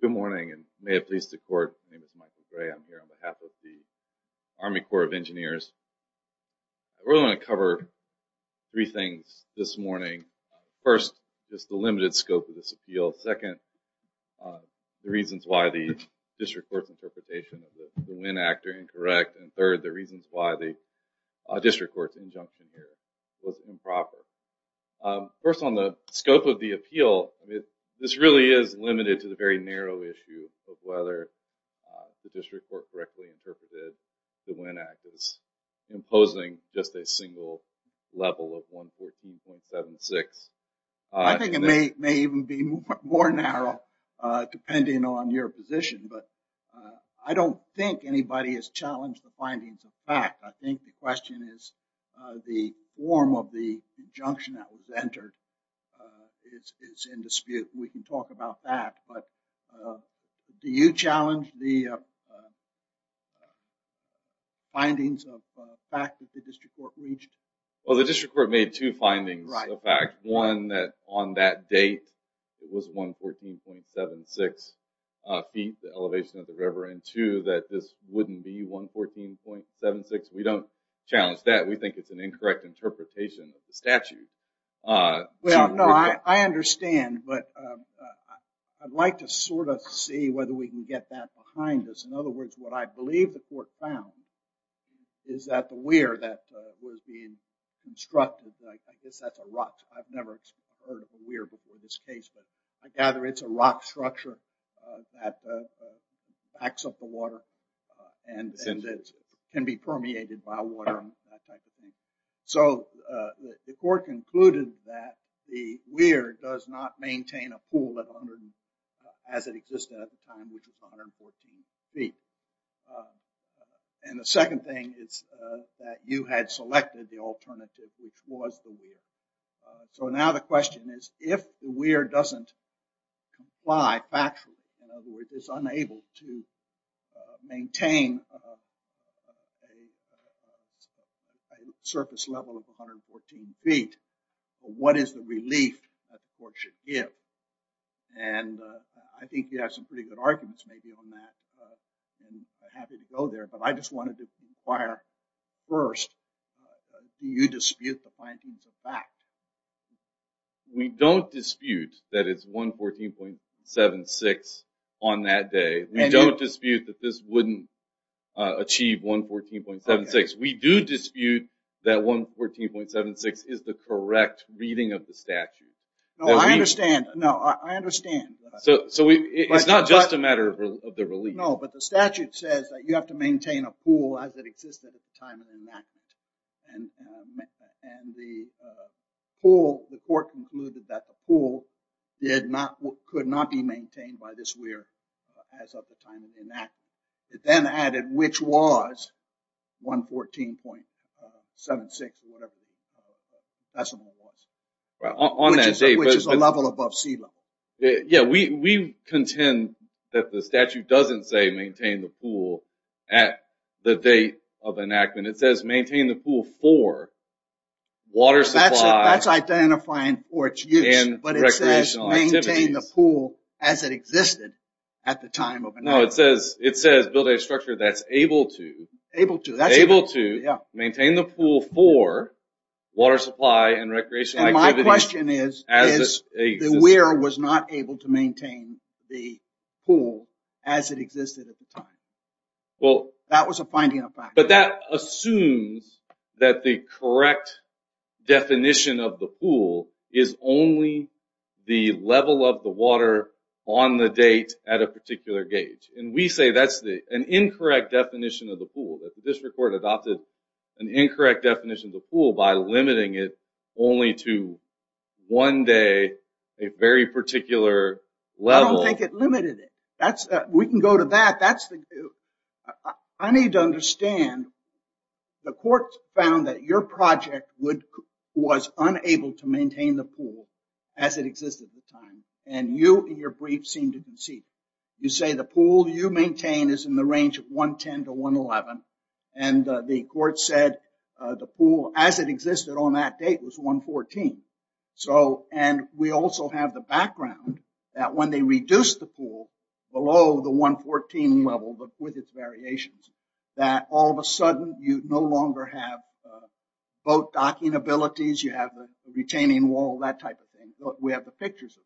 Good morning and may it please the court. My name is Michael Gray. I'm here on behalf of the Army Corps of Engineers. I really want to cover three things this morning. First, just the limited scope of this appeal. Second, the reasons why the district court's interpretation of the win actor incorrect. And third, the reasons why the district court's injunction here was improper. First, on the scope of the appeal, this really is limited to the very narrow issue of whether the district court correctly interpreted the win act as imposing just a single level of 114.76. I think it may even be more narrow depending on your position, but I don't think anybody has challenged the findings of fact. I think the question is the form of the injunction that was entered is in dispute. We can talk about that, but do you challenge the findings of fact that the district court reached? Well, the district court made two findings of fact. One, that on that date, it was 114.76 feet, the elevation of the river, and two, that this wouldn't be 114.76. We don't challenge that. We think it's an incorrect interpretation of the statute. Well, no, I understand, but I'd like to sort of see whether we can get that behind us. In other words, what I believe the court found is that the weir that was being constructed, I guess that's a rock. I've never heard of a weir before this case, but I gather it's a rock structure that backs up the water and can be permeated by water and that type of thing. So the court concluded that the weir does not maintain a pool as it existed at the time, which was 114 feet. And the second thing is that you had selected the alternative, which was the weir. So now the question is, if the weir doesn't comply factually, in other words, it's unable to maintain a surface level of 114 feet, what is the relief that the court should give? And I think you have some pretty good arguments maybe on that, and I'm happy to go there, but I just wanted to inquire first, do you dispute the findings of fact? We don't dispute that it's 114.76 on that day. We don't dispute that this wouldn't achieve 114.76. We do dispute that 114.76 is the correct reading of the statute. No, I understand. No, I understand. So it's not just a matter of the relief. No, but the statute says that you have to maintain a pool as it existed at the time of the enactment, and the court concluded that the pool could not be maintained by this weir as of the time of the enactment. It then added which was 114.76 or whatever the decimal was, which is a level above sea level. Yeah, we contend that the statute doesn't say maintain the pool at the date of enactment. It says maintain the pool for water supply. That's identifying for its use, but it says maintain the pool as it existed at the time of enactment. No, it says build a structure that's able to. Able to. Able to maintain the pool for water supply and recreational activities. The question is the weir was not able to maintain the pool as it existed at the time. That was a finding of fact. But that assumes that the correct definition of the pool is only the level of the water on the date at a particular gauge. And we say that's an incorrect definition of the pool. That the district court adopted an incorrect definition of the pool by limiting it only to one day, a very particular level. I don't think it limited it. We can go to that. I need to understand the court found that your project was unable to maintain the pool as it existed at the time. And you, in your brief, seem to concede. You say the pool you maintain is in the range of 110 to 111. And the court said the pool as it existed on that date was 114. So, and we also have the background that when they reduced the pool below the 114 level but with its variations. That all of a sudden you no longer have boat docking abilities. You have a retaining wall, that type of thing. We have the pictures of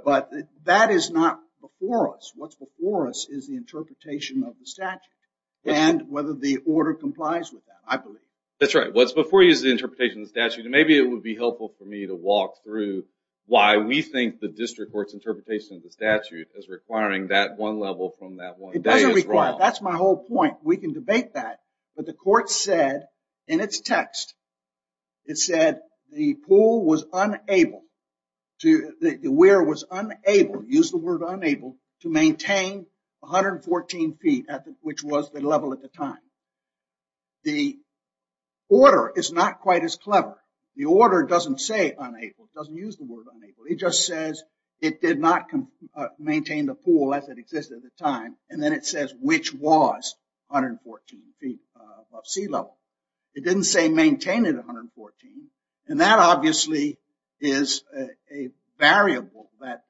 that. But that is not before us. What's before us is the interpretation of the statute. And whether the order complies with that, I believe. That's right. What's before you is the interpretation of the statute. And maybe it would be helpful for me to walk through why we think the district court's interpretation of the statute is requiring that one level from that one day as well. It doesn't require it. That's my whole point. We can debate that. But the court said in its text, it said the pool was unable, the weir was unable, use the word unable, to maintain 114 feet which was the level at the time. The order is not quite as clever. The order doesn't say unable. It doesn't use the word unable. It just says it did not maintain the pool as it existed at the time. And then it says which was 114 feet above sea level. It didn't say maintain it 114. And that obviously is a variable that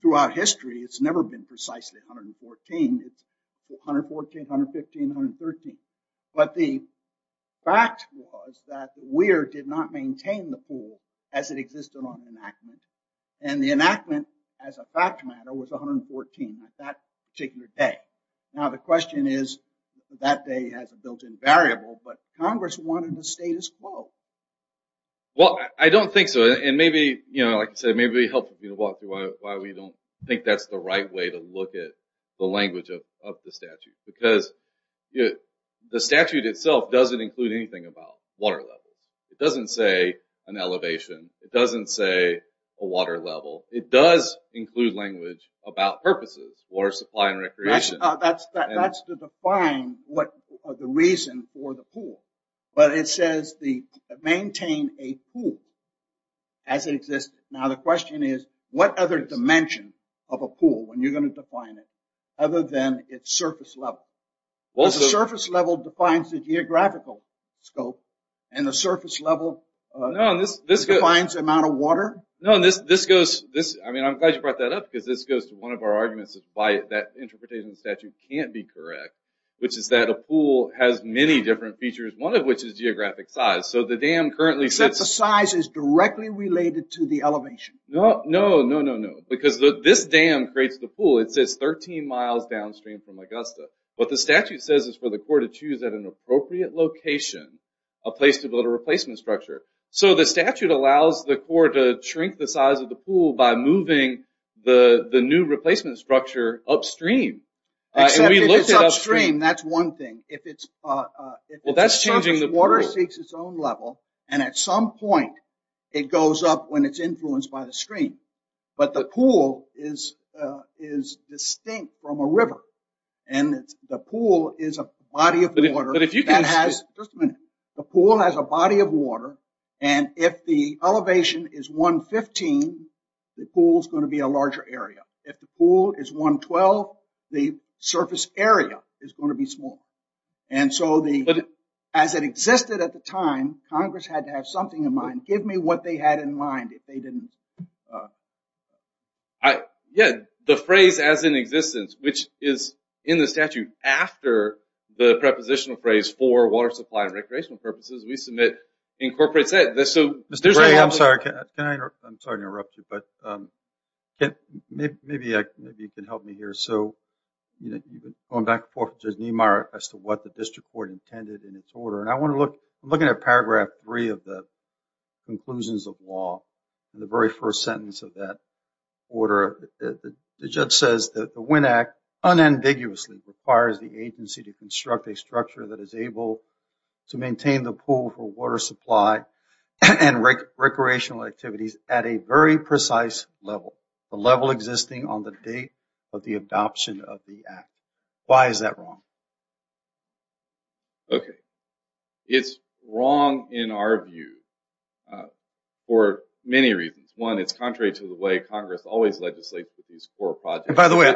throughout history it's never been precisely 114. It's 114, 115, 113. But the fact was that the weir did not maintain the pool as it existed on enactment. And the enactment as a fact matter was 114. That particular day. Now the question is that day has a built-in variable. But Congress wanted the status quo. Well, I don't think so. And maybe, like I said, maybe it helps me to walk through why we don't think that's the right way to look at the language of the statute. Because the statute itself doesn't include anything about water levels. It doesn't say an elevation. It doesn't say a water level. It does include language about purposes for supply and recreation. That's to define what the reason for the pool. But it says maintain a pool as it existed. Now the question is what other dimension of a pool, when you're going to define it, other than its surface level? Does the surface level define the geographical scope? And the surface level defines the amount of water? No. I'm glad you brought that up because this goes to one of our arguments as to why that interpretation of the statute can't be correct. Which is that a pool has many different features, one of which is geographic size. Except the size is directly related to the elevation. No, no, no, no, no. Because this dam creates the pool. It's 13 miles downstream from Augusta. What the statute says is for the Corps to choose at an appropriate location a place to build a replacement structure. So the statute allows the Corps to shrink the size of the pool by moving the new replacement structure upstream. Except if it's upstream, that's one thing. If the surface water seeks its own level, and at some point it goes up when it's influenced by the stream. But the pool is distinct from a river. And the pool is a body of water. Just a minute. The pool has a body of water. And if the elevation is 115, the pool is going to be a larger area. If the pool is 112, the surface area is going to be small. And so as it existed at the time, Congress had to have something in mind. Give me what they had in mind if they didn't. Yeah, the phrase as in existence, which is in the statute after the prepositional phrase for water supply and recreational purposes, we submit incorporates that. Mr. Gray, I'm sorry to interrupt you, but maybe you can help me here. So going back and forth with Judge Niemeyer as to what the district court intended in its order. And I want to look at Paragraph 3 of the conclusions of law, the very first sentence of that order. The judge says that the WIN Act unambiguously requires the agency to construct a structure that is able to maintain the pool for water supply and recreational activities at a very precise level, the level existing on the date of the adoption of the act. Why is that wrong? Okay. It's wrong in our view for many reasons. One, it's contrary to the way Congress always legislates with these core projects. And by the way,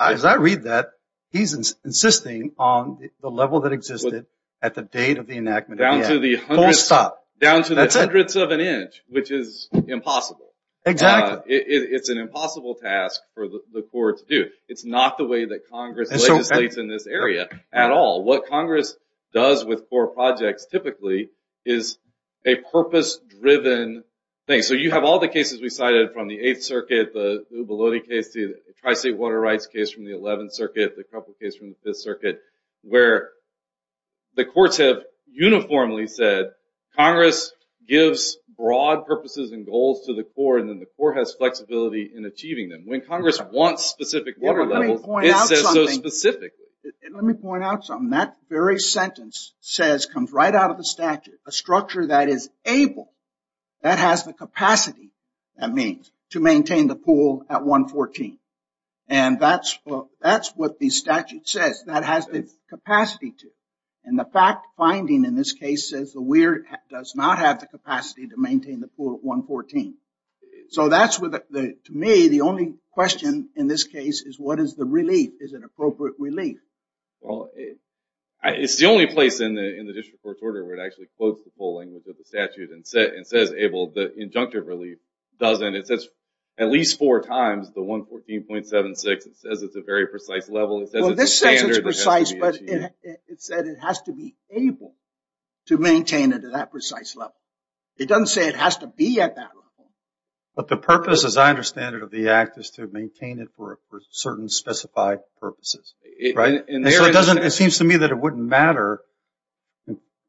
as I read that, he's insisting on the level that existed at the date of the enactment of the act. Full stop. Down to the hundredths of an inch, which is impossible. Exactly. It's an impossible task for the court to do. It's not the way that Congress legislates in this area at all. What Congress does with core projects typically is a purpose-driven thing. So you have all the cases we cited from the Eighth Circuit, the Ubalote case, the Tri-State Water Rights case from the Eleventh Circuit, the Kruppel case from the Fifth Circuit, where the courts have uniformly said Congress gives broad purposes and goals to the core, and then the core has flexibility in achieving them. When Congress wants specific water levels, it says so specifically. Let me point out something. That very sentence comes right out of the statute. A structure that is able, that has the capacity, that means, to maintain the pool at 114. And that's what the statute says. That has the capacity to. And the fact-finding in this case says the WEIRD does not have the capacity to maintain the pool at 114. So that's, to me, the only question in this case is what is the relief? Is it appropriate relief? Well, it's the only place in the district court's order where it actually quotes the full language of the statute and says able. The injunctive relief doesn't. It says at least four times the 114.76. It says it's a very precise level. It says it's standard. Well, this says it's precise, but it said it has to be able to maintain it at that precise level. It doesn't say it has to be at that level. But the purpose, as I understand it, of the act is to maintain it for certain specified purposes, right? And so it doesn't, it seems to me that it wouldn't matter,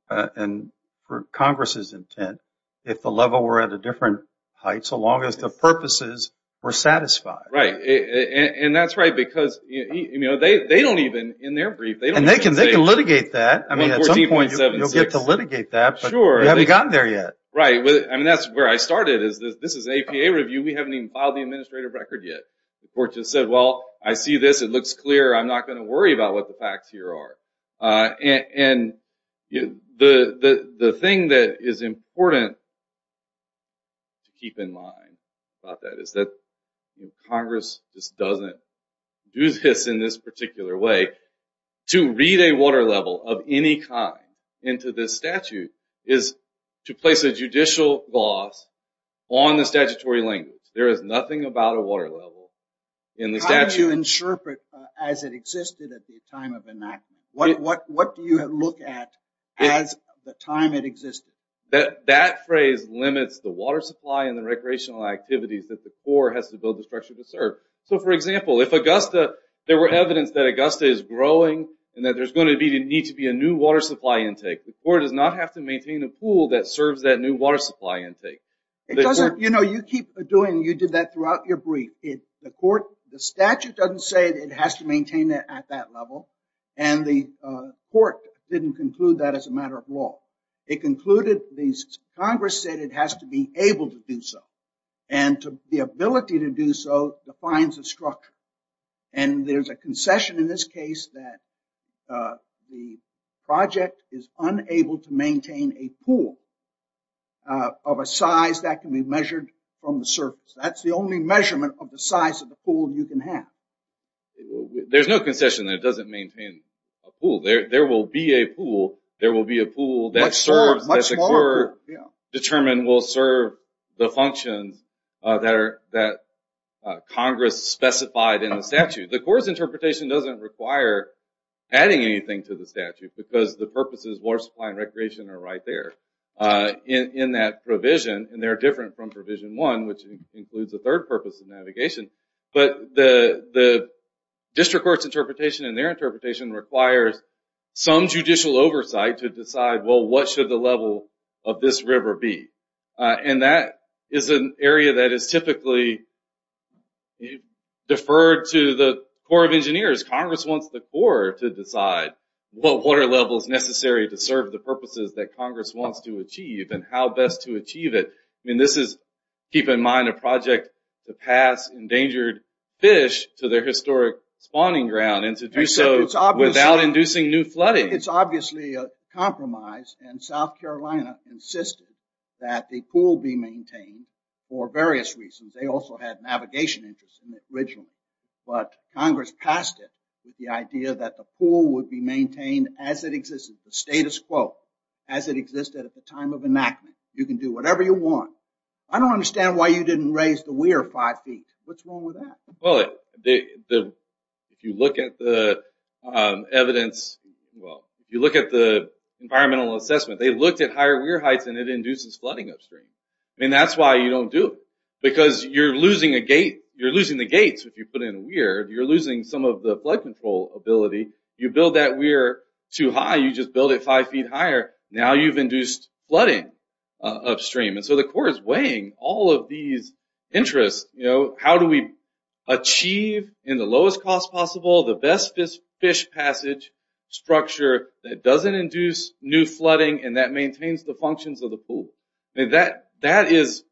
and for Congress's intent, if the level were at a different height so long as the purposes were satisfied. Right. And that's right because, you know, they don't even, in their brief, they don't even say. And they can litigate that. I mean, at some point you'll get to litigate that. But you haven't gotten there yet. Right. I mean, that's where I started is this is an APA review. We haven't even filed the administrative record yet. The court just said, well, I see this. It looks clear. I'm not going to worry about what the facts here are. And the thing that is important to keep in mind about that is that Congress just doesn't do this in this particular way. To read a water level of any kind into this statute is to place a judicial gloss on the statutory language. There is nothing about a water level in the statute. How do you interpret as it existed at the time of enactment? What do you look at as the time it existed? That phrase limits the water supply and the recreational activities that the Corps has to build the structure to serve. So, for example, if Augusta, there were evidence that Augusta is growing and that there's going to need to be a new water supply intake, the Corps does not have to maintain a pool that serves that new water supply intake. It doesn't. You know, you keep doing, you did that throughout your brief. The statute doesn't say it has to maintain it at that level. And the court didn't conclude that as a matter of law. It concluded, Congress said it has to be able to do so. And the ability to do so defines the structure. And there's a concession in this case that the project is unable to maintain a pool of a size that can be measured from the surface. That's the only measurement of the size of the pool you can have. There's no concession that it doesn't maintain a pool. There will be a pool. There will be a pool that serves, determined will serve the functions that Congress specified in the statute. The Corps' interpretation doesn't require adding anything to the statute because the purposes of water supply and recreation are right there. In that provision, and they're different from Provision 1, which includes a third purpose of navigation. But the district court's interpretation and their interpretation requires some judicial oversight to decide, well, what should the level of this river be? And that is an area that is typically deferred to the Corps of Engineers. Congress wants the Corps to decide what water level is necessary to serve the purposes that Congress wants to achieve and how best to achieve it. I mean, this is, keep in mind, a project to pass endangered fish to their historic spawning ground and to do so without inducing new flooding. It's obviously a compromise, and South Carolina insisted that the pool be maintained for various reasons. They also had navigation interests in it originally. But Congress passed it with the idea that the pool would be maintained as it existed, the status quo, as it existed at the time of enactment. You can do whatever you want. I don't understand why you didn't raise the weir five feet. What's wrong with that? Well, if you look at the evidence, well, if you look at the environmental assessment, they looked at higher weir heights and it induces flooding upstream. I mean, that's why you don't do it because you're losing a gate. You're losing the gates if you put in a weir. You're losing some of the flood control ability. You build that weir too high. You just build it five feet higher. Now you've induced flooding upstream. And so the Corps is weighing all of these interests. How do we achieve in the lowest cost possible the best fish passage structure that doesn't induce new flooding and that maintains the functions of the pool? That is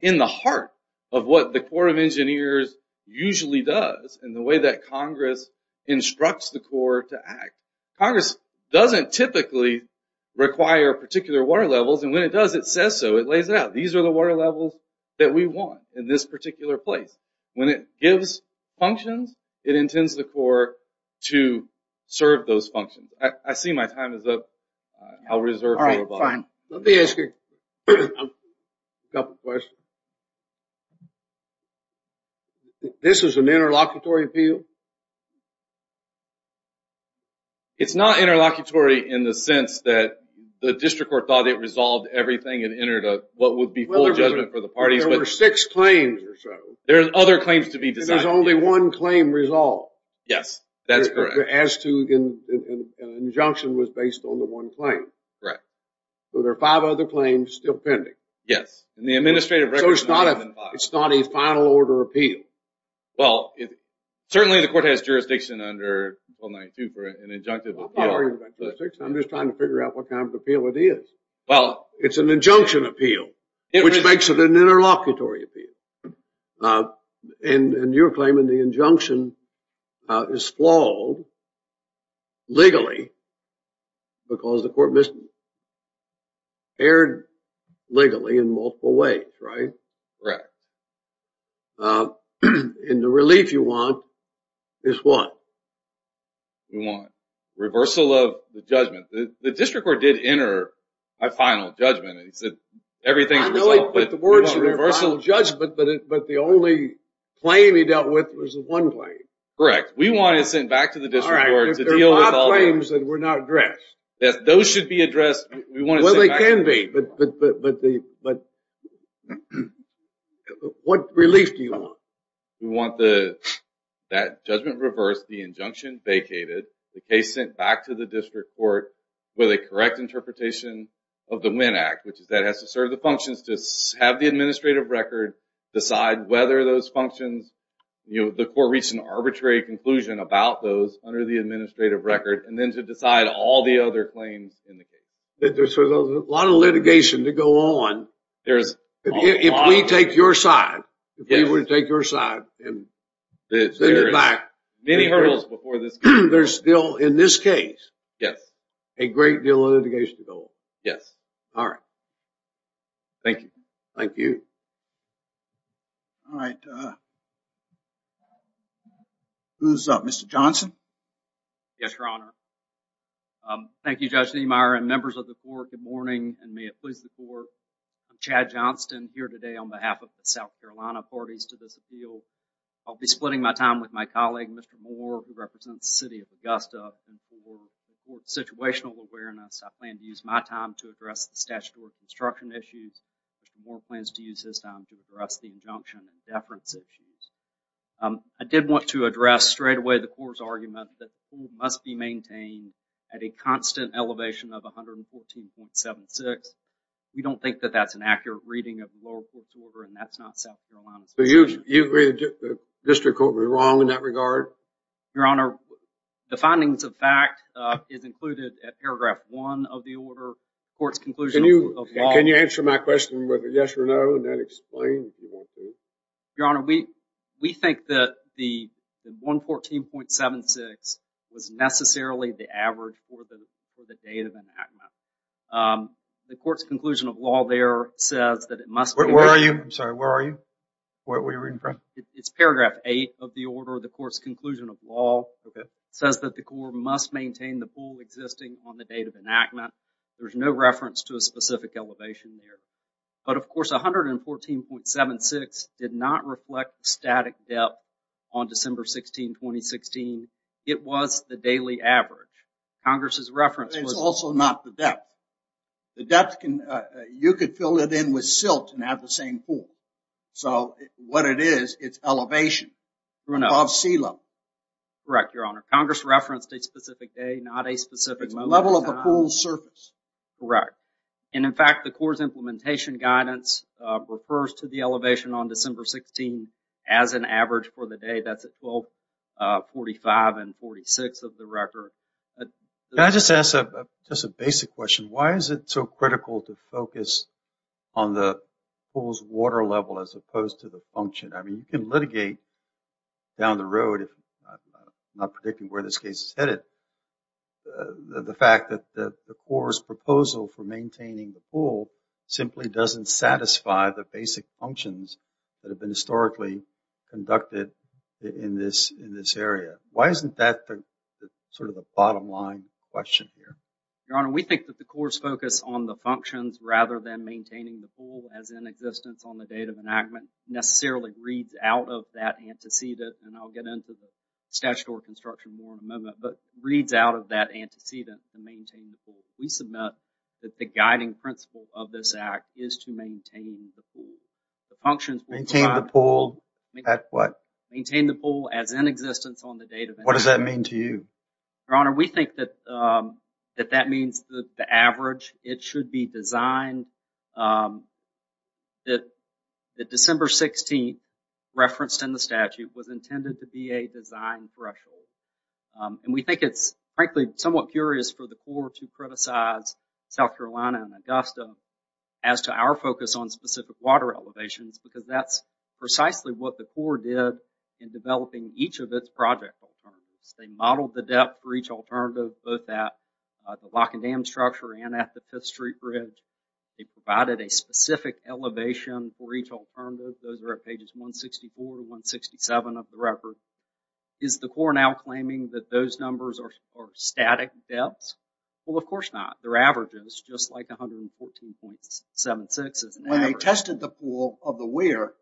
in the heart of what the Corps of Engineers usually does and the way that Congress instructs the Corps to act. Congress doesn't typically require particular water levels. And when it does, it says so. It lays it out. These are the water levels that we want in this particular place. When it gives functions, it intends the Corps to serve those functions. I see my time is up. I'll reserve it. All right, fine. Let me ask you a couple questions. This is an interlocutory appeal? It's not interlocutory in the sense that the district court thought it resolved everything and entered what would be full judgment for the parties. There were six claims or so. There are other claims to be decided. There's only one claim resolved. Yes, that's correct. The as to injunction was based on the one claim. Right. So there are five other claims still pending. Yes. So it's not a final order appeal? Well, certainly the court has jurisdiction under Article 92 for an injunctive appeal. I'm not arguing jurisdiction. I'm just trying to figure out what kind of appeal it is. It's an injunction appeal, which makes it an interlocutory appeal. And your claim in the injunction is flawed legally because the court misbehaved legally in multiple ways, right? Correct. And the relief you want is what? Reversal of the judgment. The district court did enter a final judgment. I know he put the words reversal of judgment, but the only claim he dealt with was the one claim. Correct. We want it sent back to the district court to deal with all the... All right. There are five claims that were not addressed. Yes, those should be addressed. We want it sent back to the district court. Well, they can be, but what relief do you want? We want that judgment reversed, the injunction vacated, the case sent back to the district court with a correct interpretation of the Winn Act. Which is that it has to serve the functions to have the administrative record, decide whether those functions, the court reached an arbitrary conclusion about those under the administrative record, and then to decide all the other claims in the case. There's a lot of litigation to go on. There's a lot. If we take your side, if we were to take your side and think back... There's many hurdles before this case. There's still, in this case, a great deal of litigation to go on. Yes. All right. Thank you. Thank you. All right. Who's up? Mr. Johnson? Yes, Your Honor. Thank you, Judge Niemeyer and members of the court. Good morning, and may it please the court. I'm Chad Johnston, here today on behalf of the South Carolina parties to this appeal. I'll be splitting my time with my colleague, Mr. Moore, who represents the city of Augusta. For situational awareness, I plan to use my time to address the statutory construction issues. Mr. Moore plans to use his time to address the injunction and deference issues. I did want to address straightaway the court's argument that the pool must be maintained at a constant elevation of 114.76. We don't think that that's an accurate reading of the lower court's order, and that's not South Carolina's position. Do you agree that the district court was wrong in that regard? Your Honor, the findings of fact is included at paragraph one of the order. The court's conclusion of law... Can you answer my question with a yes or no, and then explain if you want to? Your Honor, we think that the 114.76 was necessarily the average for the date of enactment. The court's conclusion of law there says that it must... Where are you? I'm sorry. Where are you? What are you reading from? It's paragraph eight of the order. The court's conclusion of law says that the court must maintain the pool existing on the date of enactment. There's no reference to a specific elevation there. But, of course, 114.76 did not reflect static depth on December 16, 2016. It was the daily average. Congress's reference was... It's also not the depth. The depth can... You could fill it in with silt and have the same pool. So what it is, it's elevation. Above sea level. Correct, Your Honor. Congress referenced a specific day, not a specific moment in time. It's the level of the pool's surface. Correct. And, in fact, the court's implementation guidance refers to the elevation on December 16 as an average for the day. That's at 1245 and 46 of the record. Can I just ask just a basic question? Why is it so critical to focus on the pool's water level as opposed to the function? I mean, you can litigate down the road, if I'm not predicting where this case is headed, the fact that the court's proposal for maintaining the pool simply doesn't satisfy the basic functions that have been historically conducted in this area. Why isn't that sort of the bottom line question here? Your Honor, we think that the court's focus on the functions rather than maintaining the pool as in existence on the date of enactment necessarily reads out of that antecedent, and I'll get into the statutory construction more in a moment, but reads out of that antecedent to maintain the pool. We submit that the guiding principle of this act is to maintain the pool. Maintain the pool at what? Maintain the pool as in existence on the date of enactment. What does that mean to you? Your Honor, we think that that means the average. It should be designed that December 16th referenced in the statute was intended to be a design threshold, and we think it's frankly somewhat curious for the court to criticize South Carolina and Augusta as to our focus on specific water elevations because that's precisely what the court did in developing each of its project alternatives. They modeled the depth for each alternative, both at the lock and dam structure and at the 5th Street Bridge. They provided a specific elevation for each alternative. Those are at pages 164 to 167 of the record. Is the court now claiming that those numbers are static depths? Well, of course not. They're averages, just like 114.76 is an average. When they tested the pool of the weir,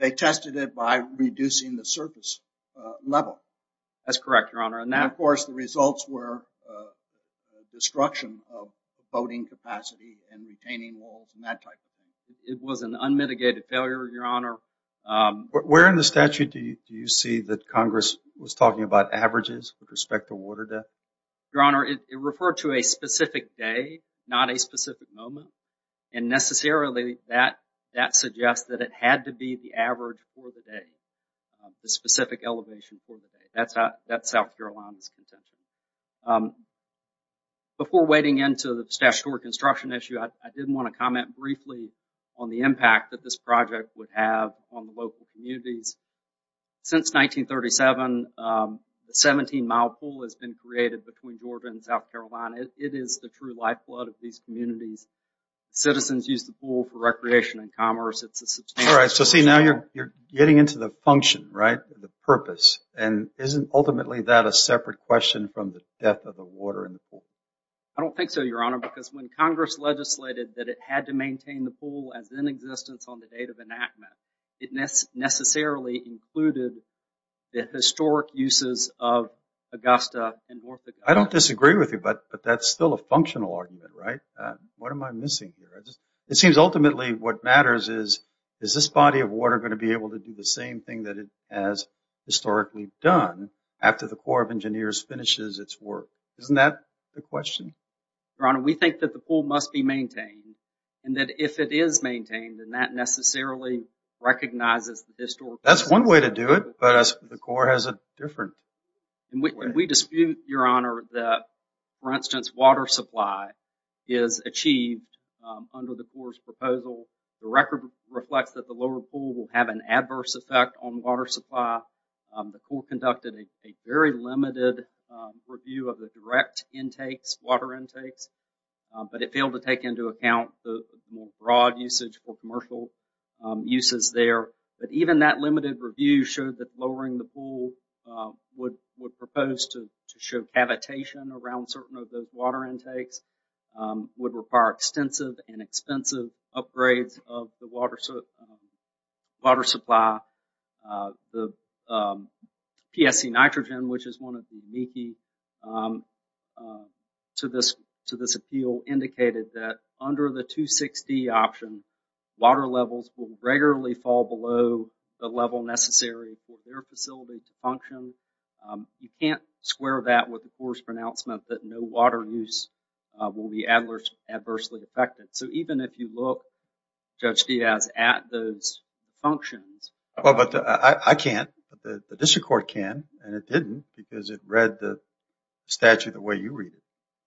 they tested it by reducing the surface level. That's correct, Your Honor. And, of course, the results were destruction of boating capacity and retaining walls and that type of thing. It was an unmitigated failure, Your Honor. Where in the statute do you see that Congress was talking about averages with respect to water depth? Your Honor, it referred to a specific day, not a specific moment, and necessarily that suggests that it had to be the average for the day, the specific elevation for the day. That's South Carolina's contention. Before wading into the statutory construction issue, I did want to comment briefly on the impact that this project would have on the local communities. Since 1937, the 17-mile pool has been created between Georgia and South Carolina. It is the true lifeblood of these communities. Citizens use the pool for recreation and commerce. All right, so see, now you're getting into the function, right, the purpose, and isn't ultimately that a separate question from the depth of the water in the pool? I don't think so, Your Honor, because when Congress legislated that it had to maintain the pool as in existence on the date of enactment, it necessarily included the historic uses of Augusta and North Dakota. I don't disagree with you, but that's still a functional argument, right? What am I missing here? It seems ultimately what matters is, is this body of water going to be able to do the same thing that it has historically done after the Corps of Engineers finishes its work? Isn't that the question? Your Honor, we think that the pool must be maintained, and that if it is maintained, then that necessarily recognizes the historical use. That's one way to do it, but the Corps has a different way. We dispute, Your Honor, that, for instance, water supply is achieved under the Corps' proposal. The record reflects that the lower pool will have an adverse effect on water supply. The Corps conducted a very limited review of the direct intakes, water intakes, but it failed to take into account the more broad usage or commercial uses there. But even that limited review showed that lowering the pool would propose to show cavitation around certain of those water intakes, would require extensive and expensive upgrades of the water supply. The PSC Nitrogen, which is one of the unique to this appeal, indicated that under the 260 option, water levels will regularly fall below the level necessary for their facility to function. You can't square that with the Corps' pronouncement that no water use will be adversely affected. So even if you look, Judge Diaz, at those functions. Well, but I can't. The district court can, and it didn't because it read the statute the way you read it.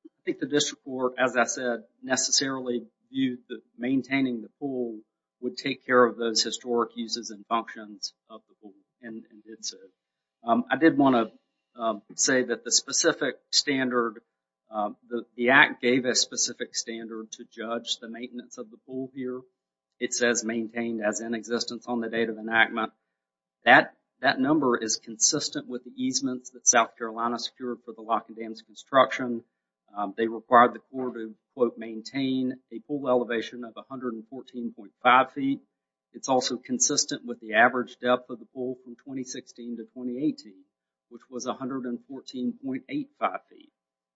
I think the district court, as I said, necessarily viewed that maintaining the pool would take care of those historic uses and functions of the pool and did so. I did want to say that the specific standard, the Act gave a specific standard to judge the maintenance of the pool here. It says maintained as in existence on the date of enactment. That number is consistent with the easements that South Carolina secured for the Lock and Dams construction. They required the Corps to quote maintain a pool elevation of 114.5 feet. It's also consistent with the average depth of the pool from 2016 to 2018, which was 114.85 feet.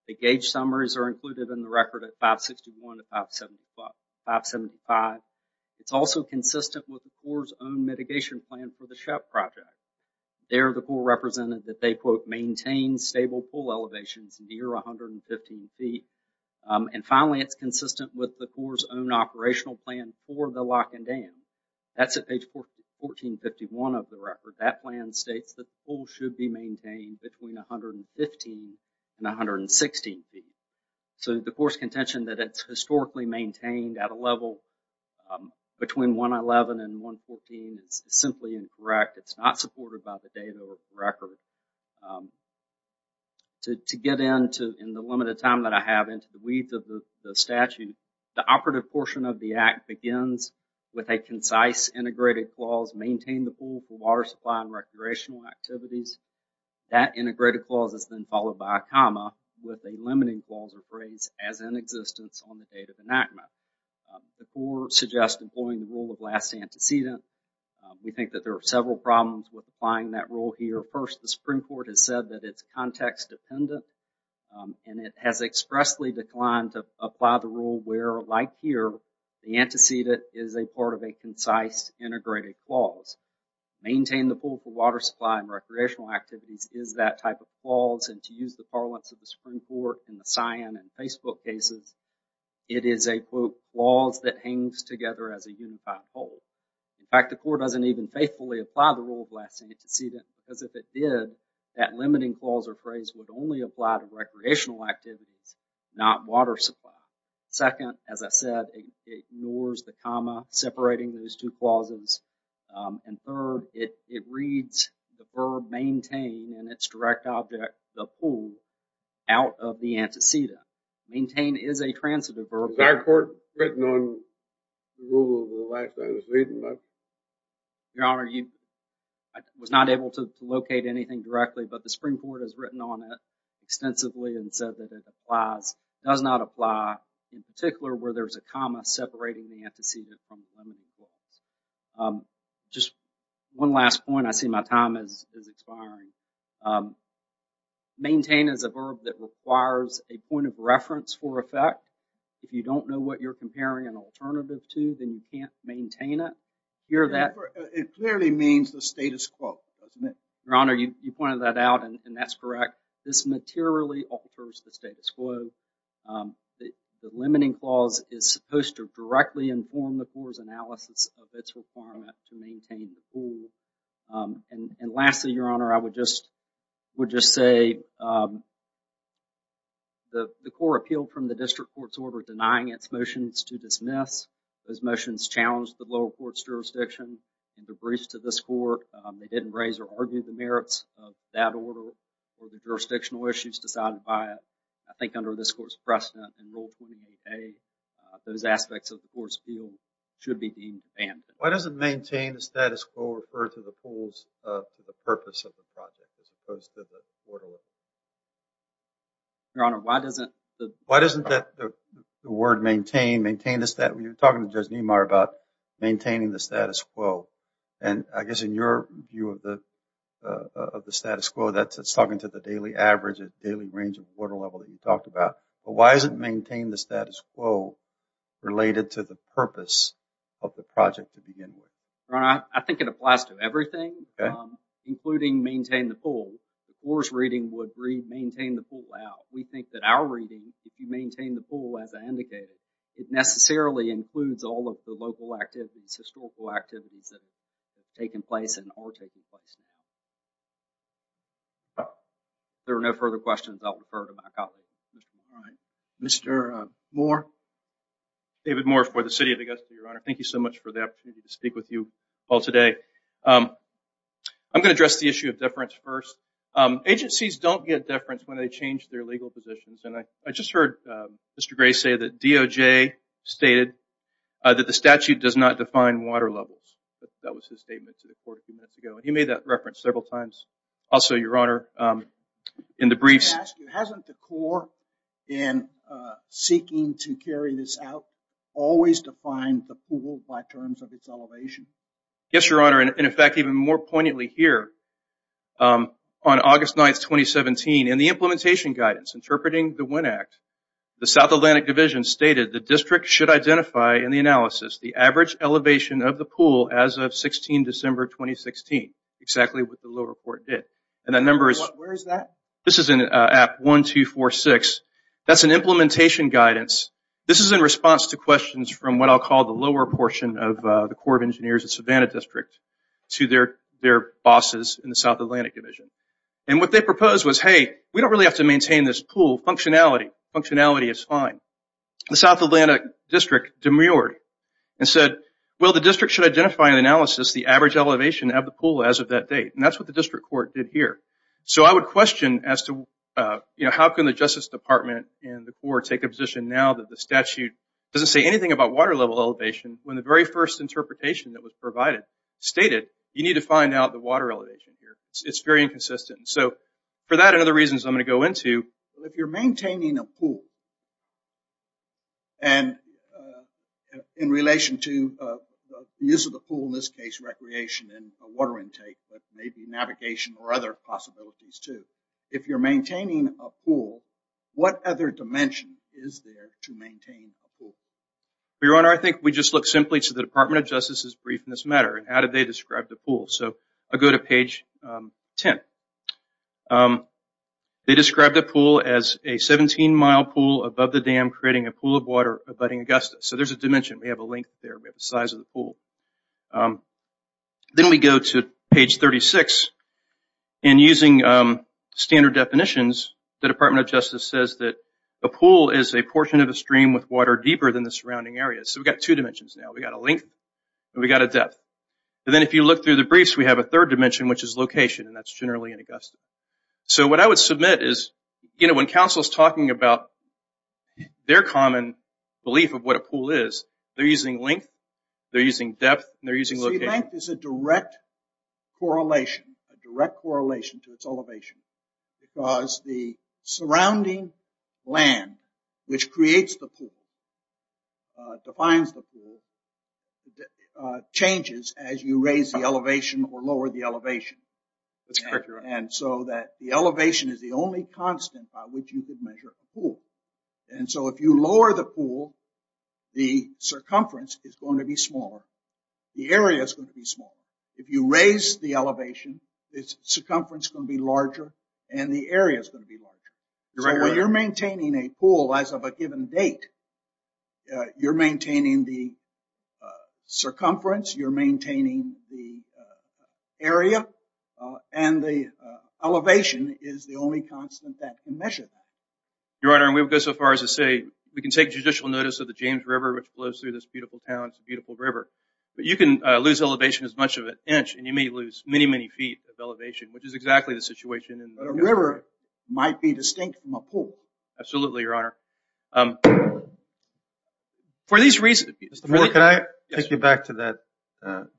The gauge summaries are included in the record at 561 to 575. It's also consistent with the Corps' own mitigation plan for the SHEP project. There the Corps represented that they quote maintain stable pool elevations near 115 feet. Finally, it's consistent with the Corps' own operational plan for the Lock and Dam. That's at page 1451 of the record. That plan states that the pool should be maintained between 115 and 116 feet. So, the Corps' contention that it's historically maintained at a level between 111 and 114 is simply incorrect. It's not supported by the data or record. To get into the limited time that I have into the width of the statute, the operative portion of the Act begins with a concise integrated clause, maintain the pool for water supply and recreational activities. That integrated clause is then followed by a comma with a limiting clause or phrase as in existence on the date of enactment. The Corps suggests employing the rule of last antecedent. We think that there are several problems with applying that rule here. First, the Supreme Court has said that it's context dependent and it has expressly declined to apply the rule where, like here, the antecedent is a part of a concise integrated clause. Maintain the pool for water supply and recreational activities is that type of clause and to use the parlance of the Supreme Court in the Scion and Facebook cases, it is a quote clause that hangs together as a unified whole. In fact, the Corps doesn't even faithfully apply the rule of last antecedent because if it did, that limiting clause or phrase would only apply to recreational activities, not water supply. Second, as I said, it ignores the comma separating those two clauses. And third, it reads the verb maintain in its direct object the pool out of the antecedent. Maintain is a transitive verb. Was our court written on the rule of the last antecedent? Your Honor, I was not able to locate anything directly, but the Supreme Court has written on it extensively and said that it applies. It does not apply in particular where there's a comma separating the antecedent from the limiting clause. Just one last point. I see my time is expiring. Maintain is a verb that requires a point of reference for effect. If you don't know what you're comparing an alternative to, then you can't maintain it. It clearly means the status quo, doesn't it? Your Honor, you pointed that out, and that's correct. This materially alters the status quo. The limiting clause is supposed to directly inform the Corps' analysis of its requirement to maintain the pool. And lastly, Your Honor, I would just say the Corps appealed from the district court's order denying its motions to dismiss. Those motions challenged the lower court's jurisdiction and debriefs to this court. They didn't raise or argue the merits of that order or the jurisdictional issues decided by it. I think under this court's precedent in Rule 28a, those aspects of the court's appeal should be being banned. Why doesn't maintain the status quo refer to the pools for the purpose of the project as opposed to the water level? Your Honor, why doesn't the word maintain, maintain the status quo? You were talking to Judge Niemeyer about maintaining the status quo. And I guess in your view of the status quo, that's talking to the daily average, the daily range of the water level that you talked about. But why is it maintain the status quo related to the purpose of the project to begin with? Your Honor, I think it applies to everything, including maintain the pool. The Corps' reading would read maintain the pool out. We think that our reading, if you maintain the pool as I indicated, it necessarily includes all of the local activities, historical activities that have taken place and are taking place. If there are no further questions, I'll refer to my colleague. Mr. Moore. David Moore for the City of Augusta, Your Honor. Thank you so much for the opportunity to speak with you all today. I'm going to address the issue of deference first. Agencies don't get deference when they change their legal positions. And I just heard Mr. Gray say that DOJ stated that the statute does not define water levels. That was his statement to the Court a few minutes ago. He made that reference several times. Also, Your Honor, in the briefs. Hasn't the Corps, in seeking to carry this out, always defined the pool by terms of its elevation? Yes, Your Honor. And in fact, even more poignantly here, on August 9, 2017, in the implementation guidance, interpreting the WIN Act, the South Atlantic Division stated the district should identify in the analysis the average elevation of the pool as of 16 December 2016. Exactly what the lower court did. Where is that? This is in Act 1246. That's an implementation guidance. This is in response to questions from what I'll call the lower portion of the Corps of Engineers, the Savannah District, to their bosses in the South Atlantic Division. And what they proposed was, hey, we don't really have to maintain this pool. Functionality is fine. The South Atlantic District demurred and said, well, the district should identify in the analysis the average elevation of the pool as of that date. And that's what the district court did here. So I would question as to how can the Justice Department and the Corps take a position now that the statute doesn't say anything about water level elevation when the very first interpretation that was provided stated you need to find out the water elevation here. It's very inconsistent. So for that and other reasons I'm going to go into, if you're maintaining a pool, and in relation to the use of the pool, in this case recreation and water intake, but maybe navigation or other possibilities too, if you're maintaining a pool, what other dimension is there to maintain a pool? Your Honor, I think we just look simply to the Department of Justice's brief in this matter. How did they describe the pool? So I'll go to page 10. They described the pool as a 17-mile pool above the dam creating a pool of water abutting Augusta. So there's a dimension. We have a length there. We have the size of the pool. Then we go to page 36. And using standard definitions, the Department of Justice says that a pool is a portion of a stream with water deeper than the surrounding area. So we've got two dimensions now. We've got a length and we've got a depth. And then if you look through the briefs, we have a third dimension, which is location, and that's generally in Augusta. So what I would submit is, you know, when counsel is talking about their common belief of what a pool is, they're using length, they're using depth, and they're using location. See, length is a direct correlation, a direct correlation to its elevation, because the surrounding land, which creates the pool, defines the pool, changes as you raise the elevation or lower the elevation. And so that the elevation is the only constant by which you can measure a pool. And so if you lower the pool, the circumference is going to be smaller. The area is going to be smaller. If you raise the elevation, the circumference is going to be larger, and the area is going to be larger. So when you're maintaining a pool as of a given date, you're maintaining the circumference, you're maintaining the area, and the elevation is the only constant that can measure that. Your Honor, we would go so far as to say we can take judicial notice of the James River, which flows through this beautiful town. It's a beautiful river. But you can lose elevation as much as an inch, and you may lose many, many feet of elevation, which is exactly the situation. A river might be distinct from a pool. Absolutely, Your Honor. Mr. Moore, can I take you back to that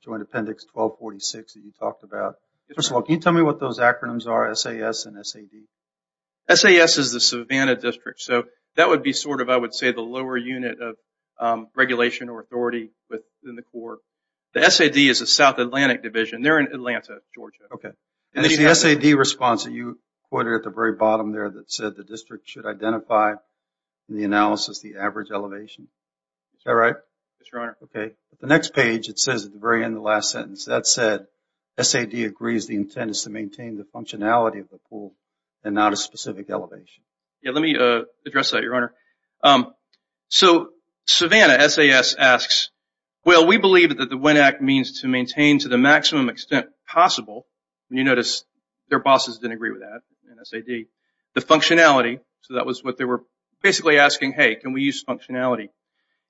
Joint Appendix 1246 that you talked about? First of all, can you tell me what those acronyms are, SAS and SAD? SAS is the Savannah District, so that would be sort of, I would say, the lower unit of regulation or authority within the Corps. The SAD is the South Atlantic Division. They're in Atlanta, Georgia. Okay. And it's the SAD response that you quoted at the very bottom there that said the district should identify in the analysis the average elevation. Is that right? Yes, Your Honor. Okay. The next page, it says at the very end of the last sentence, that said, SAD agrees the intent is to maintain the functionality of the pool and not a specific elevation. Yeah, let me address that, Your Honor. So Savannah, SAS, asks, well, we believe that the WIN Act means to maintain to the maximum extent possible, and you notice their bosses didn't agree with that in SAD, the functionality. So that was what they were basically asking, hey, can we use functionality?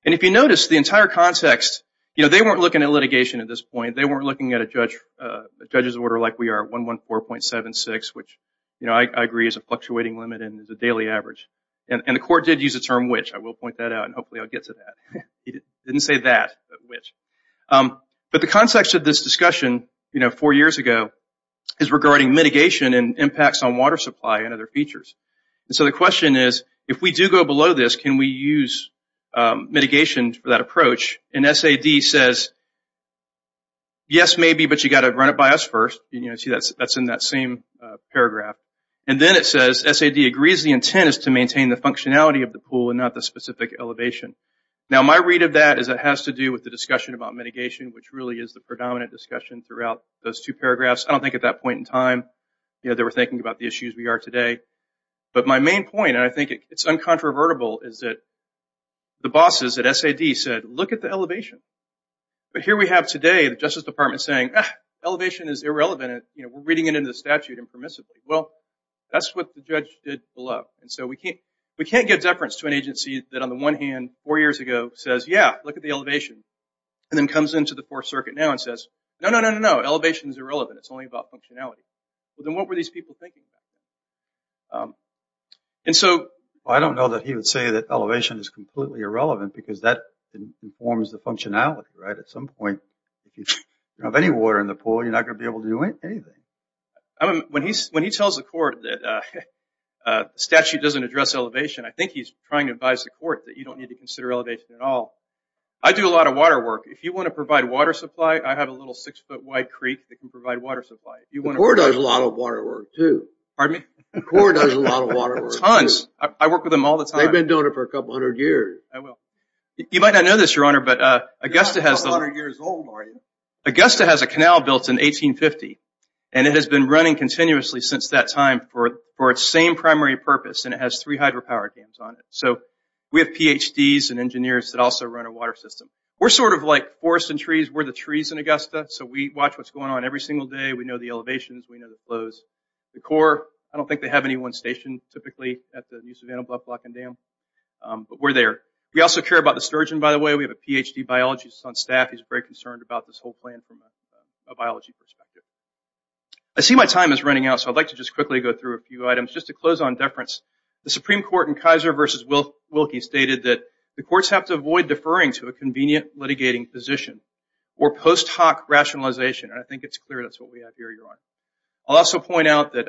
And if you notice, the entire context, you know, they weren't looking at litigation at this point. They weren't looking at a judge's order like we are, 114.76, which I agree is a fluctuating limit and is a daily average. And the court did use the term which. I will point that out, and hopefully I'll get to that. It didn't say that, but which. But the context of this discussion, you know, four years ago is regarding mitigation and impacts on water supply and other features. And so the question is, if we do go below this, can we use mitigation for that approach? And SAD says, yes, maybe, but you've got to run it by us first. You know, see, that's in that same paragraph. And then it says, SAD agrees the intent is to maintain the functionality of the pool and not the specific elevation. Now, my read of that is it has to do with the discussion about mitigation, which really is the predominant discussion throughout those two paragraphs. I don't think at that point in time, you know, they were thinking about the issues we are today. But my main point, and I think it's uncontrovertible, is that the bosses at SAD said, look at the elevation. But here we have today the Justice Department saying, ah, elevation is irrelevant and, you know, we're reading it into the statute impermissibly. Well, that's what the judge did below. And so we can't give deference to an agency that, on the one hand, four years ago says, yeah, look at the elevation, and then comes into the Fourth Circuit now and says, no, no, no, no, no. Elevation is irrelevant. It's only about functionality. Well, then what were these people thinking about? And so I don't know that he would say that elevation is completely irrelevant because that informs the functionality, right? At some point, if you have any water in the pool, you're not going to be able to do anything. When he tells the court that statute doesn't address elevation, I think he's trying to advise the court that you don't need to consider elevation at all. I do a lot of water work. If you want to provide water supply, I have a little six-foot-wide creek that can provide water supply. The court does a lot of water work, too. Pardon me? The court does a lot of water work. Tons. I work with them all the time. They've been doing it for a couple hundred years. I will. You might not know this, Your Honor, but Augusta has the- You're not a couple hundred years old, are you? Augusta has a canal built in 1850, and it has been running continuously since that time for its same primary purpose, and it has three hydropower dams on it. So we have PhDs and engineers that also run a water system. We're sort of like forests and trees. We're the trees in Augusta, so we watch what's going on every single day. We know the elevations. We know the flows. The Corps, I don't think they have any one station, but we're there. We also care about the sturgeon, by the way. We have a PhD biologist on staff. He's very concerned about this whole plan from a biology perspective. I see my time is running out, so I'd like to just quickly go through a few items. Just to close on deference, the Supreme Court in Kaiser v. Wilkie stated that the courts have to avoid deferring to a convenient litigating position or post hoc rationalization, and I think it's clear that's what we have here, Your Honor. I'll also point out that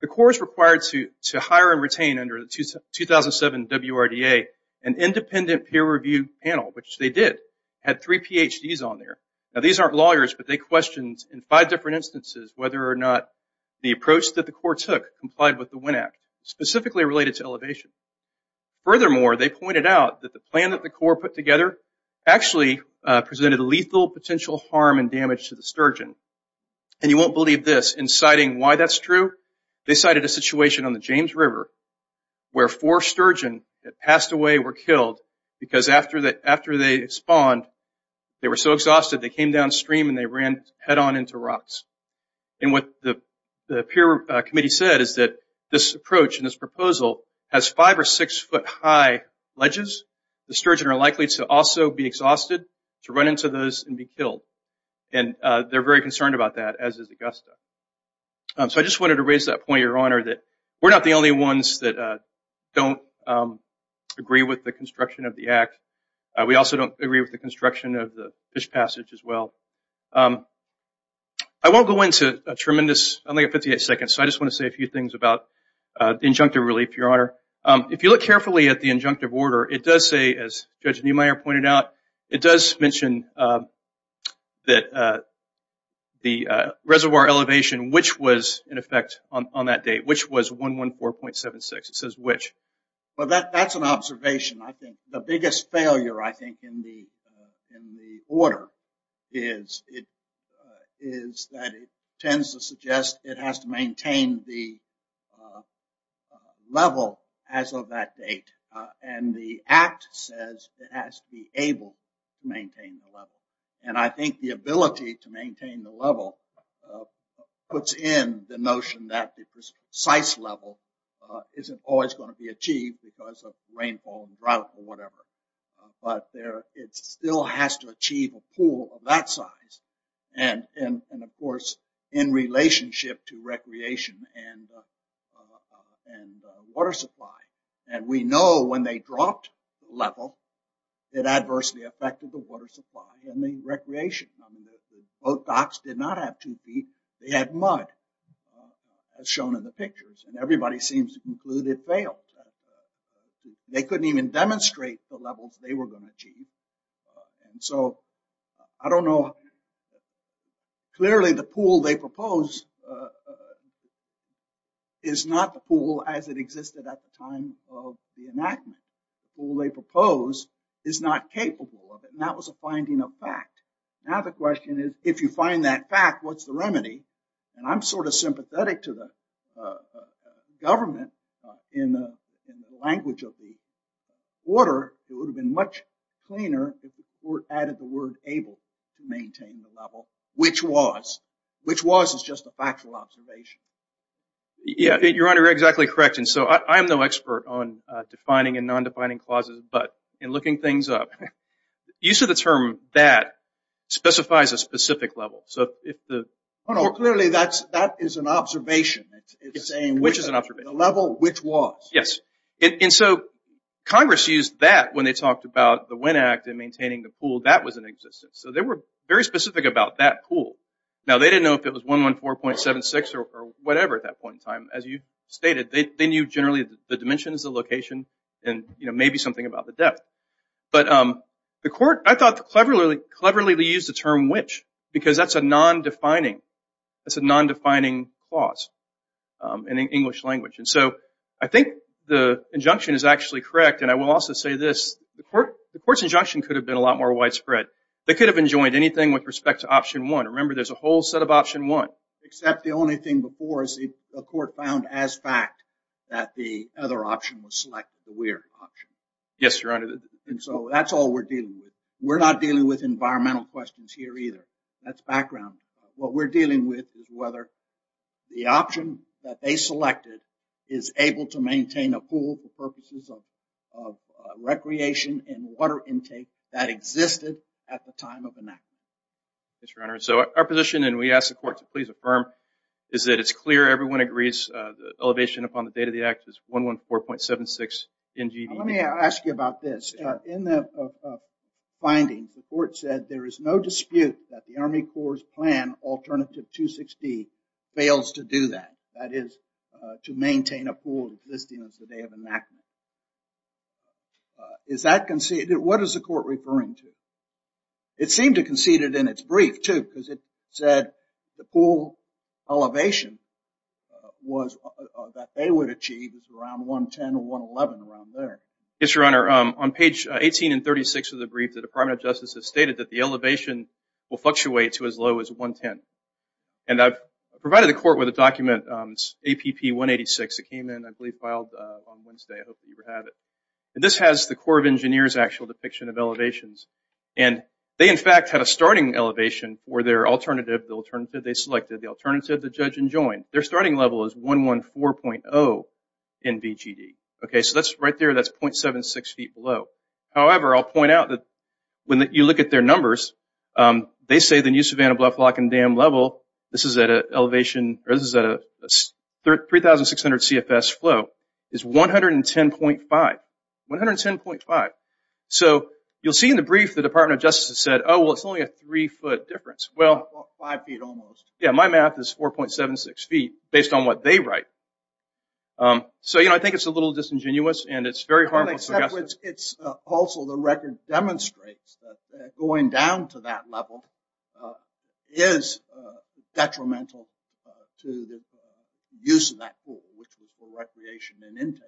the Corps is required to hire and retain under the 2007 WRDA an independent peer review panel, which they did. Had three PhDs on there. Now, these aren't lawyers, but they questioned in five different instances whether or not the approach that the Corps took complied with the WIN Act, specifically related to elevation. Furthermore, they pointed out that the plan that the Corps put together actually presented lethal potential harm and damage to the sturgeon, and you won't believe this. In citing why that's true, they cited a situation on the James River where four sturgeon that passed away were killed because after they spawned, they were so exhausted, they came downstream and they ran head-on into rocks. And what the peer committee said is that this approach and this proposal has five or six foot high ledges. The sturgeon are likely to also be exhausted, to run into those and be killed. And they're very concerned about that, as is Augusta. So I just wanted to raise that point, Your Honor, that we're not the only ones that don't agree with the construction of the Act. We also don't agree with the construction of the Fish Passage as well. I won't go into a tremendous, I only have 58 seconds, so I just want to say a few things about the injunctive relief, Your Honor. If you look carefully at the injunctive order, it does say, as Judge Neumeier pointed out, it does mention that the reservoir elevation, which was in effect on that date, which was 114.76. It says which. Well, that's an observation, I think. The biggest failure, I think, in the order is that it tends to suggest it has to maintain the level as of that date. And the Act says it has to be able to maintain the level. And I think the ability to maintain the level puts in the notion that the precise level isn't always going to be achieved because of rainfall and drought or whatever. But it still has to achieve a pool of that size. And, of course, in relationship to recreation and water supply. And we know when they dropped the level, it adversely affected the water supply and the recreation. Both docks did not have two feet, they had mud, as shown in the pictures. And everybody seems to conclude it failed. They couldn't even demonstrate the levels they were going to achieve. And so, I don't know. Clearly, the pool they propose is not the pool as it existed at the time of the enactment. The pool they propose is not capable of it. And that was a finding of fact. Now the question is, if you find that fact, what's the remedy? And I'm sort of sympathetic to the government in the language of the order. It would have been much cleaner if the court added the word able to maintain the level, which was. Which was is just a factual observation. Yeah, your honor, you're exactly correct. And so, I'm no expert on defining and non-defining clauses. But in looking things up, use of the term that specifies a specific level. So, if the... No, no, clearly that is an observation. It's saying which is an observation. The level which was. Yes. And so, Congress used that when they talked about the Wynne Act and maintaining the pool. That was in existence. So, they were very specific about that pool. Now, they didn't know if it was 114.76 or whatever at that point in time. As you stated, they knew generally the dimensions, the location, and maybe something about the depth. But the court, I thought, cleverly used the term which. Because that's a non-defining clause in the English language. And so, I think the injunction is actually correct. And I will also say this. The court's injunction could have been a lot more widespread. They could have enjoined anything with respect to option one. Remember, there's a whole set of option one. Except the only thing before is the court found as fact that the other option was selected, the Weir option. Yes, your honor. And so, that's all we're dealing with. We're not dealing with environmental questions here either. That's background. What we're dealing with is whether the option that they selected is able to maintain a pool for purposes of recreation and water intake that existed at the time of enactment. Yes, your honor. So, our position, and we ask the court to please affirm, is that it's clear, everyone agrees, the elevation upon the date of the act is 114.76 NGV. Let me ask you about this. In the findings, the court said there is no dispute that the Army Corps' plan, alternative 260, fails to do that. That is, to maintain a pool existing as of the day of enactment. Is that conceded? What is the court referring to? It seemed to concede it in its brief, too, because it said the pool elevation that they would achieve is around 110 or 111, around there. Yes, your honor. On page 18 and 36 of the brief, the Department of Justice has stated that the elevation will fluctuate to as low as 110. And I've provided the court with a document, APP 186. It came in, I believe, filed on Wednesday. I hope you have it. And this has the Corps of Engineers' actual depiction of elevations. And they, in fact, had a starting elevation for their alternative, the alternative they selected, the alternative the judge enjoined. Their starting level is 114.0 NGV. Okay, so that's right there, that's .76 feet below. However, I'll point out that when you look at their numbers, they say the new Savannah, Bluff, Lock, and Dam level, this is at a 3,600 CFS flow, is 110.5, 110.5. So you'll see in the brief the Department of Justice has said, oh, well, it's only a three-foot difference. Five feet almost. Yeah, my math is 4.76 feet based on what they write. So, you know, I think it's a little disingenuous and it's very harmful. Also, the record demonstrates that going down to that level is detrimental to the use of that pool, which was for recreation and intake,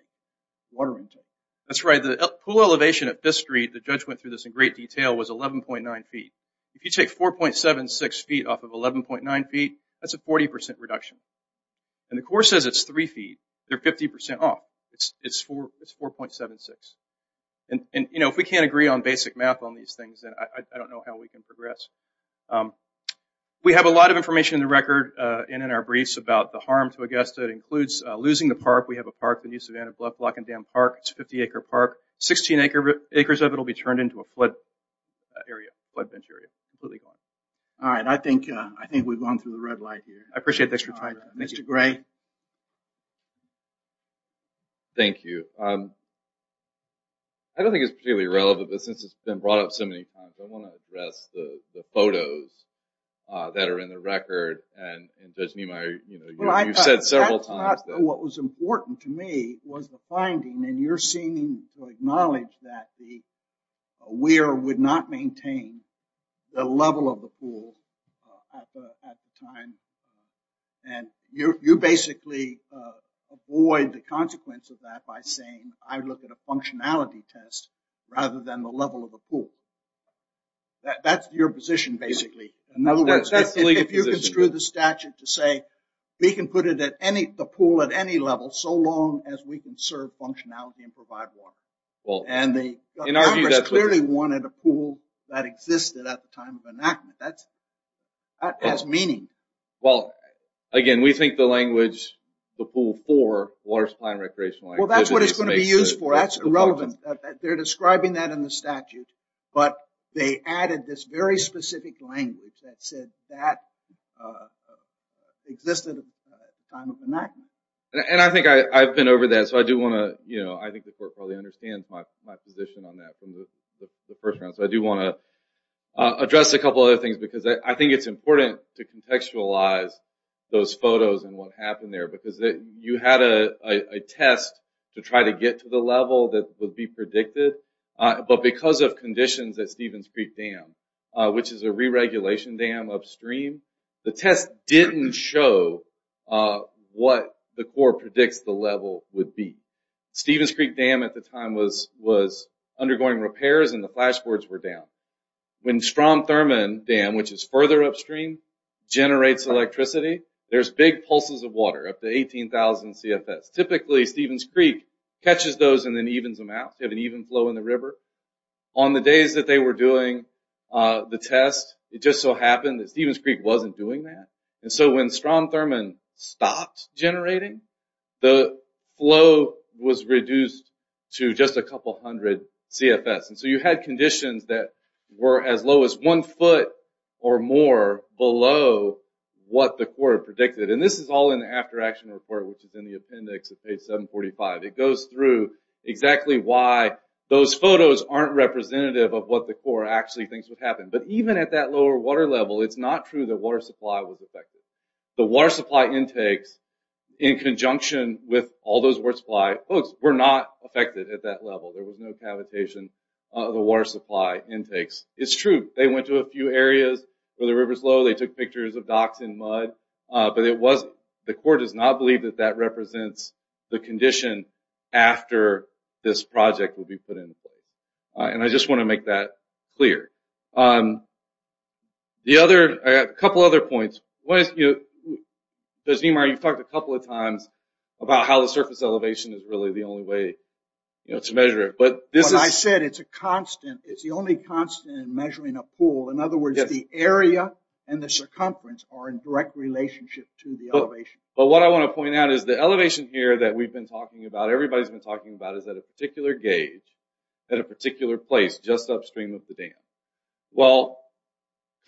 water intake. That's right. The pool elevation at this street, the judge went through this in great detail, was 11.9 feet. If you take 4.76 feet off of 11.9 feet, that's a 40% reduction. And the Corps says it's three feet. They're 50% off. It's 4.76. And, you know, if we can't agree on basic math on these things, then I don't know how we can progress. We have a lot of information in the record and in our briefs about the harm to Augusta. It includes losing the park. We have a park, the new Savannah, Bluff, Lock, and Dam park. It's a 50-acre park. Sixteen acres of it will be turned into a flood area, flood bench area, completely gone. All right. I think we've gone through the red light here. I appreciate the extra time. Mr. Gray. Thank you. I don't think it's particularly relevant, but since it's been brought up so many times, I want to address the photos that are in the record. And Judge Niemeyer, you know, you've said several times. What was important to me was the finding, and you're seeming to acknowledge that the WEIR would not maintain the level of the pool at the time. And you basically avoid the consequence of that by saying, I look at a functionality test rather than the level of the pool. That's your position, basically. In other words, if you construe the statute to say, we can put the pool at any level so long as we can serve functionality and provide water. And Congress clearly wanted a pool that existed at the time of enactment. That has meaning. Well, again, we think the language, the pool for water supply and recreational activities. Well, that's what it's going to be used for. That's irrelevant. They're describing that in the statute. But they added this very specific language that said that existed at the time of enactment. And I think I've been over that, so I do want to, you know, I think the court probably understands my position on that from the first round. So I do want to address a couple of other things because I think it's important to contextualize those photos and what happened there because you had a test to try to get to the level that would be predicted. But because of conditions at Stevens Creek Dam, which is a re-regulation dam upstream, the test didn't show what the court predicts the level would be. Stevens Creek Dam at the time was undergoing repairs, and the flashboards were down. When Strom Thurman Dam, which is further upstream, generates electricity, there's big pulses of water up to 18,000 CFS. Typically, Stevens Creek catches those and then evens them out. They have an even flow in the river. On the days that they were doing the test, it just so happened that Stevens Creek wasn't doing that. And so when Strom Thurman stopped generating, the flow was reduced to just a couple hundred CFS. So you had conditions that were as low as one foot or more below what the court predicted. And this is all in the after-action report, which is in the appendix at page 745. It goes through exactly why those photos aren't representative of what the court actually thinks would happen. But even at that lower water level, it's not true that water supply was affected. The water supply intakes in conjunction with all those water supply folks were not affected at that level. There was no cavitation of the water supply intakes. It's true. They went to a few areas where the river's low. They took pictures of docks in mud. But the court does not believe that that represents the condition after this project would be put in place. And I just want to make that clear. I have a couple other points. You've talked a couple of times about how the surface elevation is really the only way to measure it. But I said it's a constant. It's the only constant in measuring a pool. In other words, the area and the circumference are in direct relationship to the elevation. But what I want to point out is the elevation here that we've been talking about, everybody's been talking about, is at a particular gauge at a particular place just upstream of the dam. Well,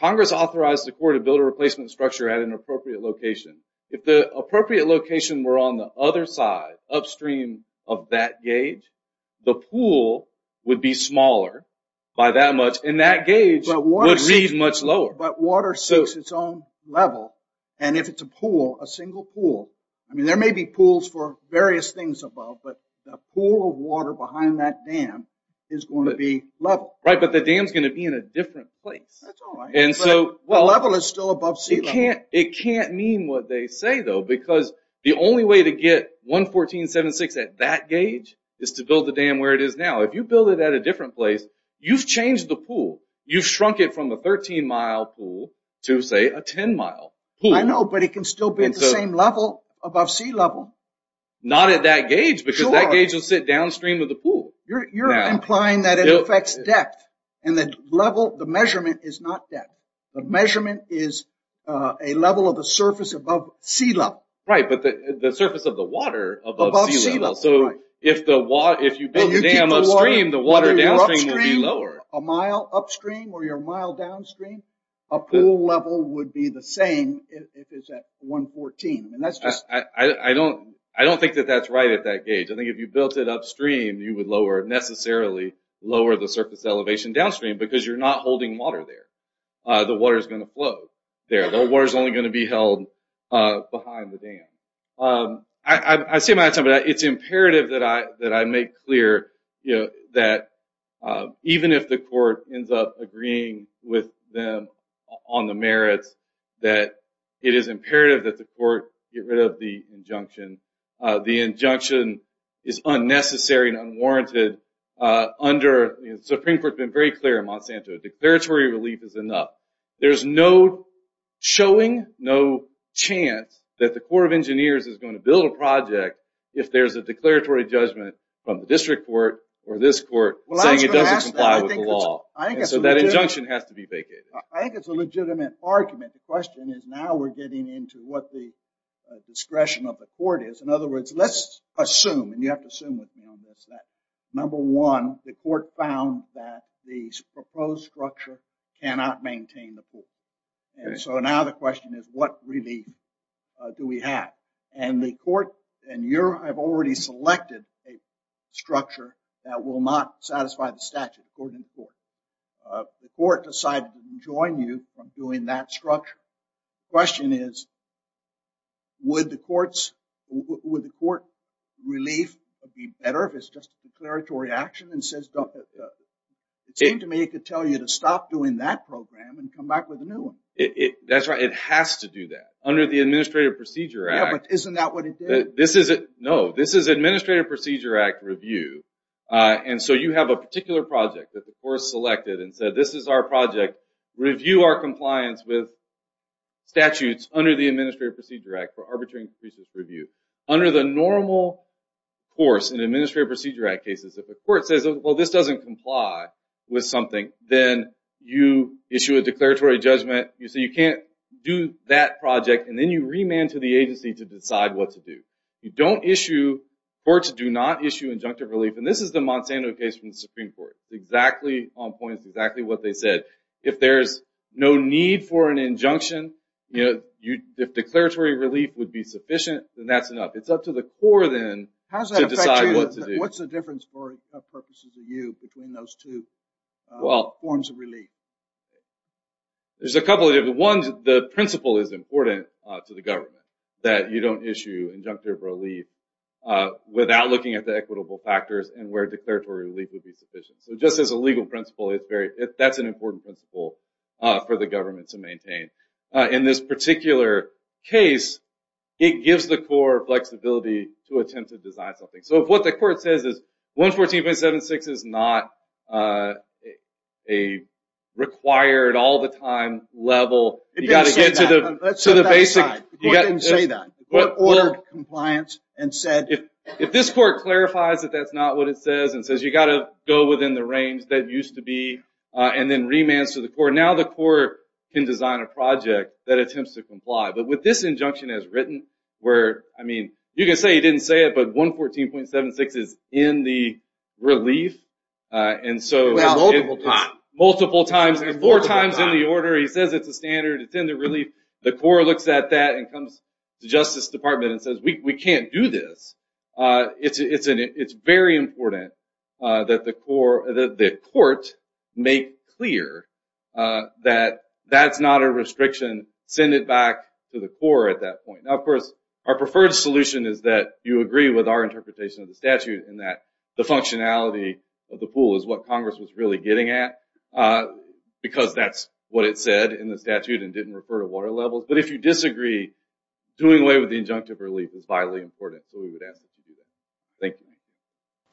Congress authorized the court to build a replacement structure at an appropriate location. If the appropriate location were on the other side, upstream of that gauge, the pool would be smaller by that much, and that gauge would read much lower. But water seeks its own level. And if it's a pool, a single pool, I mean, there may be pools for various things above, but the pool of water behind that dam is going to be level. Right, but the dam's going to be in a different place. That's all right. But level is still above sea level. It can't mean what they say, though, because the only way to get 114.76 at that gauge is to build the dam where it is now. If you build it at a different place, you've changed the pool. You've shrunk it from a 13-mile pool to, say, a 10-mile pool. I know, but it can still be at the same level above sea level. Not at that gauge because that gauge will sit downstream of the pool. You're implying that it affects depth, and the measurement is not depth. The measurement is a level of the surface above sea level. Right, but the surface of the water above sea level. Above sea level, right. So if you build the dam upstream, the water downstream will be lower. A mile upstream or you're a mile downstream, a pool level would be the same if it's at 114. I don't think that that's right at that gauge. I think if you built it upstream, you would necessarily lower the surface elevation downstream because you're not holding water there. The water is going to flow there. The water is only going to be held behind the dam. I say my time, but it's imperative that I make clear that even if the court ends up agreeing with them on the merits, that it is imperative that the court get rid of the injunction. The injunction is unnecessary and unwarranted under the Supreme Court. It's been very clear in Monsanto. Declaratory relief is enough. There's no showing, no chance that the Corps of Engineers is going to build a project if there's a declaratory judgment from the district court or this court saying it doesn't comply with the law. So that injunction has to be vacated. I think it's a legitimate argument. The question is now we're getting into what the discretion of the court is. In other words, let's assume, and you have to assume with me on this, that, number one, the court found that the proposed structure cannot maintain the pool. And so now the question is what relief do we have? And the court and you have already selected a structure that will not satisfy the statute according to the court. The court decided to join you on doing that structure. The question is would the court's relief be better if it's just declaratory action and says, it seemed to me it could tell you to stop doing that program and come back with a new one. That's right. It has to do that under the Administrative Procedure Act. Yeah, but isn't that what it did? No. This is Administrative Procedure Act review. And so you have a particular project that the Corps has selected and said this is our project. Review our compliance with statutes under the Administrative Procedure Act for arbitrary and capricious review. Under the normal course in Administrative Procedure Act cases, if a court says, well, this doesn't comply with something, then you issue a declaratory judgment. You say you can't do that project, and then you remand to the agency to decide what to do. Courts do not issue injunctive relief, and this is the Monsanto case from the Supreme Court. It's exactly on point. It's exactly what they said. If there's no need for an injunction, if declaratory relief would be sufficient, then that's enough. It's up to the Corps then to decide what to do. How does that affect you? What's the difference for purposes of you between those two forms of relief? There's a couple of different ones. The principle is important to the government that you don't issue injunctive relief without looking at the equitable factors and where declaratory relief would be sufficient. So just as a legal principle, that's an important principle for the government to maintain. In this particular case, it gives the Corps flexibility to attempt to design something. So if what the Court says is 114.76 is not a required, all-the-time level, you've got to get to the basic... It didn't say that. The Court didn't say that. The Court ordered compliance and said... If this Court clarifies that that's not what it says and says you've got to go within the range that it used to be and then remands to the Court, now the Court can design a project that attempts to comply. But with this injunction as written, where, I mean, you can say he didn't say it, but 114.76 is in the relief, and so... Multiple times. Multiple times. Four times in the order. He says it's a standard. It's in the relief. The Corps looks at that and comes to the Justice Department and says, we can't do this. It's very important that the Court make clear that that's not a restriction. Send it back to the Corps at that point. Now, of course, our preferred solution is that you agree with our interpretation of the statute and that the functionality of the pool is what Congress was really getting at because that's what it said in the statute and didn't refer to water levels. But if you disagree, doing away with the injunctive relief is vitally important, so we would ask that you do that. Thank you.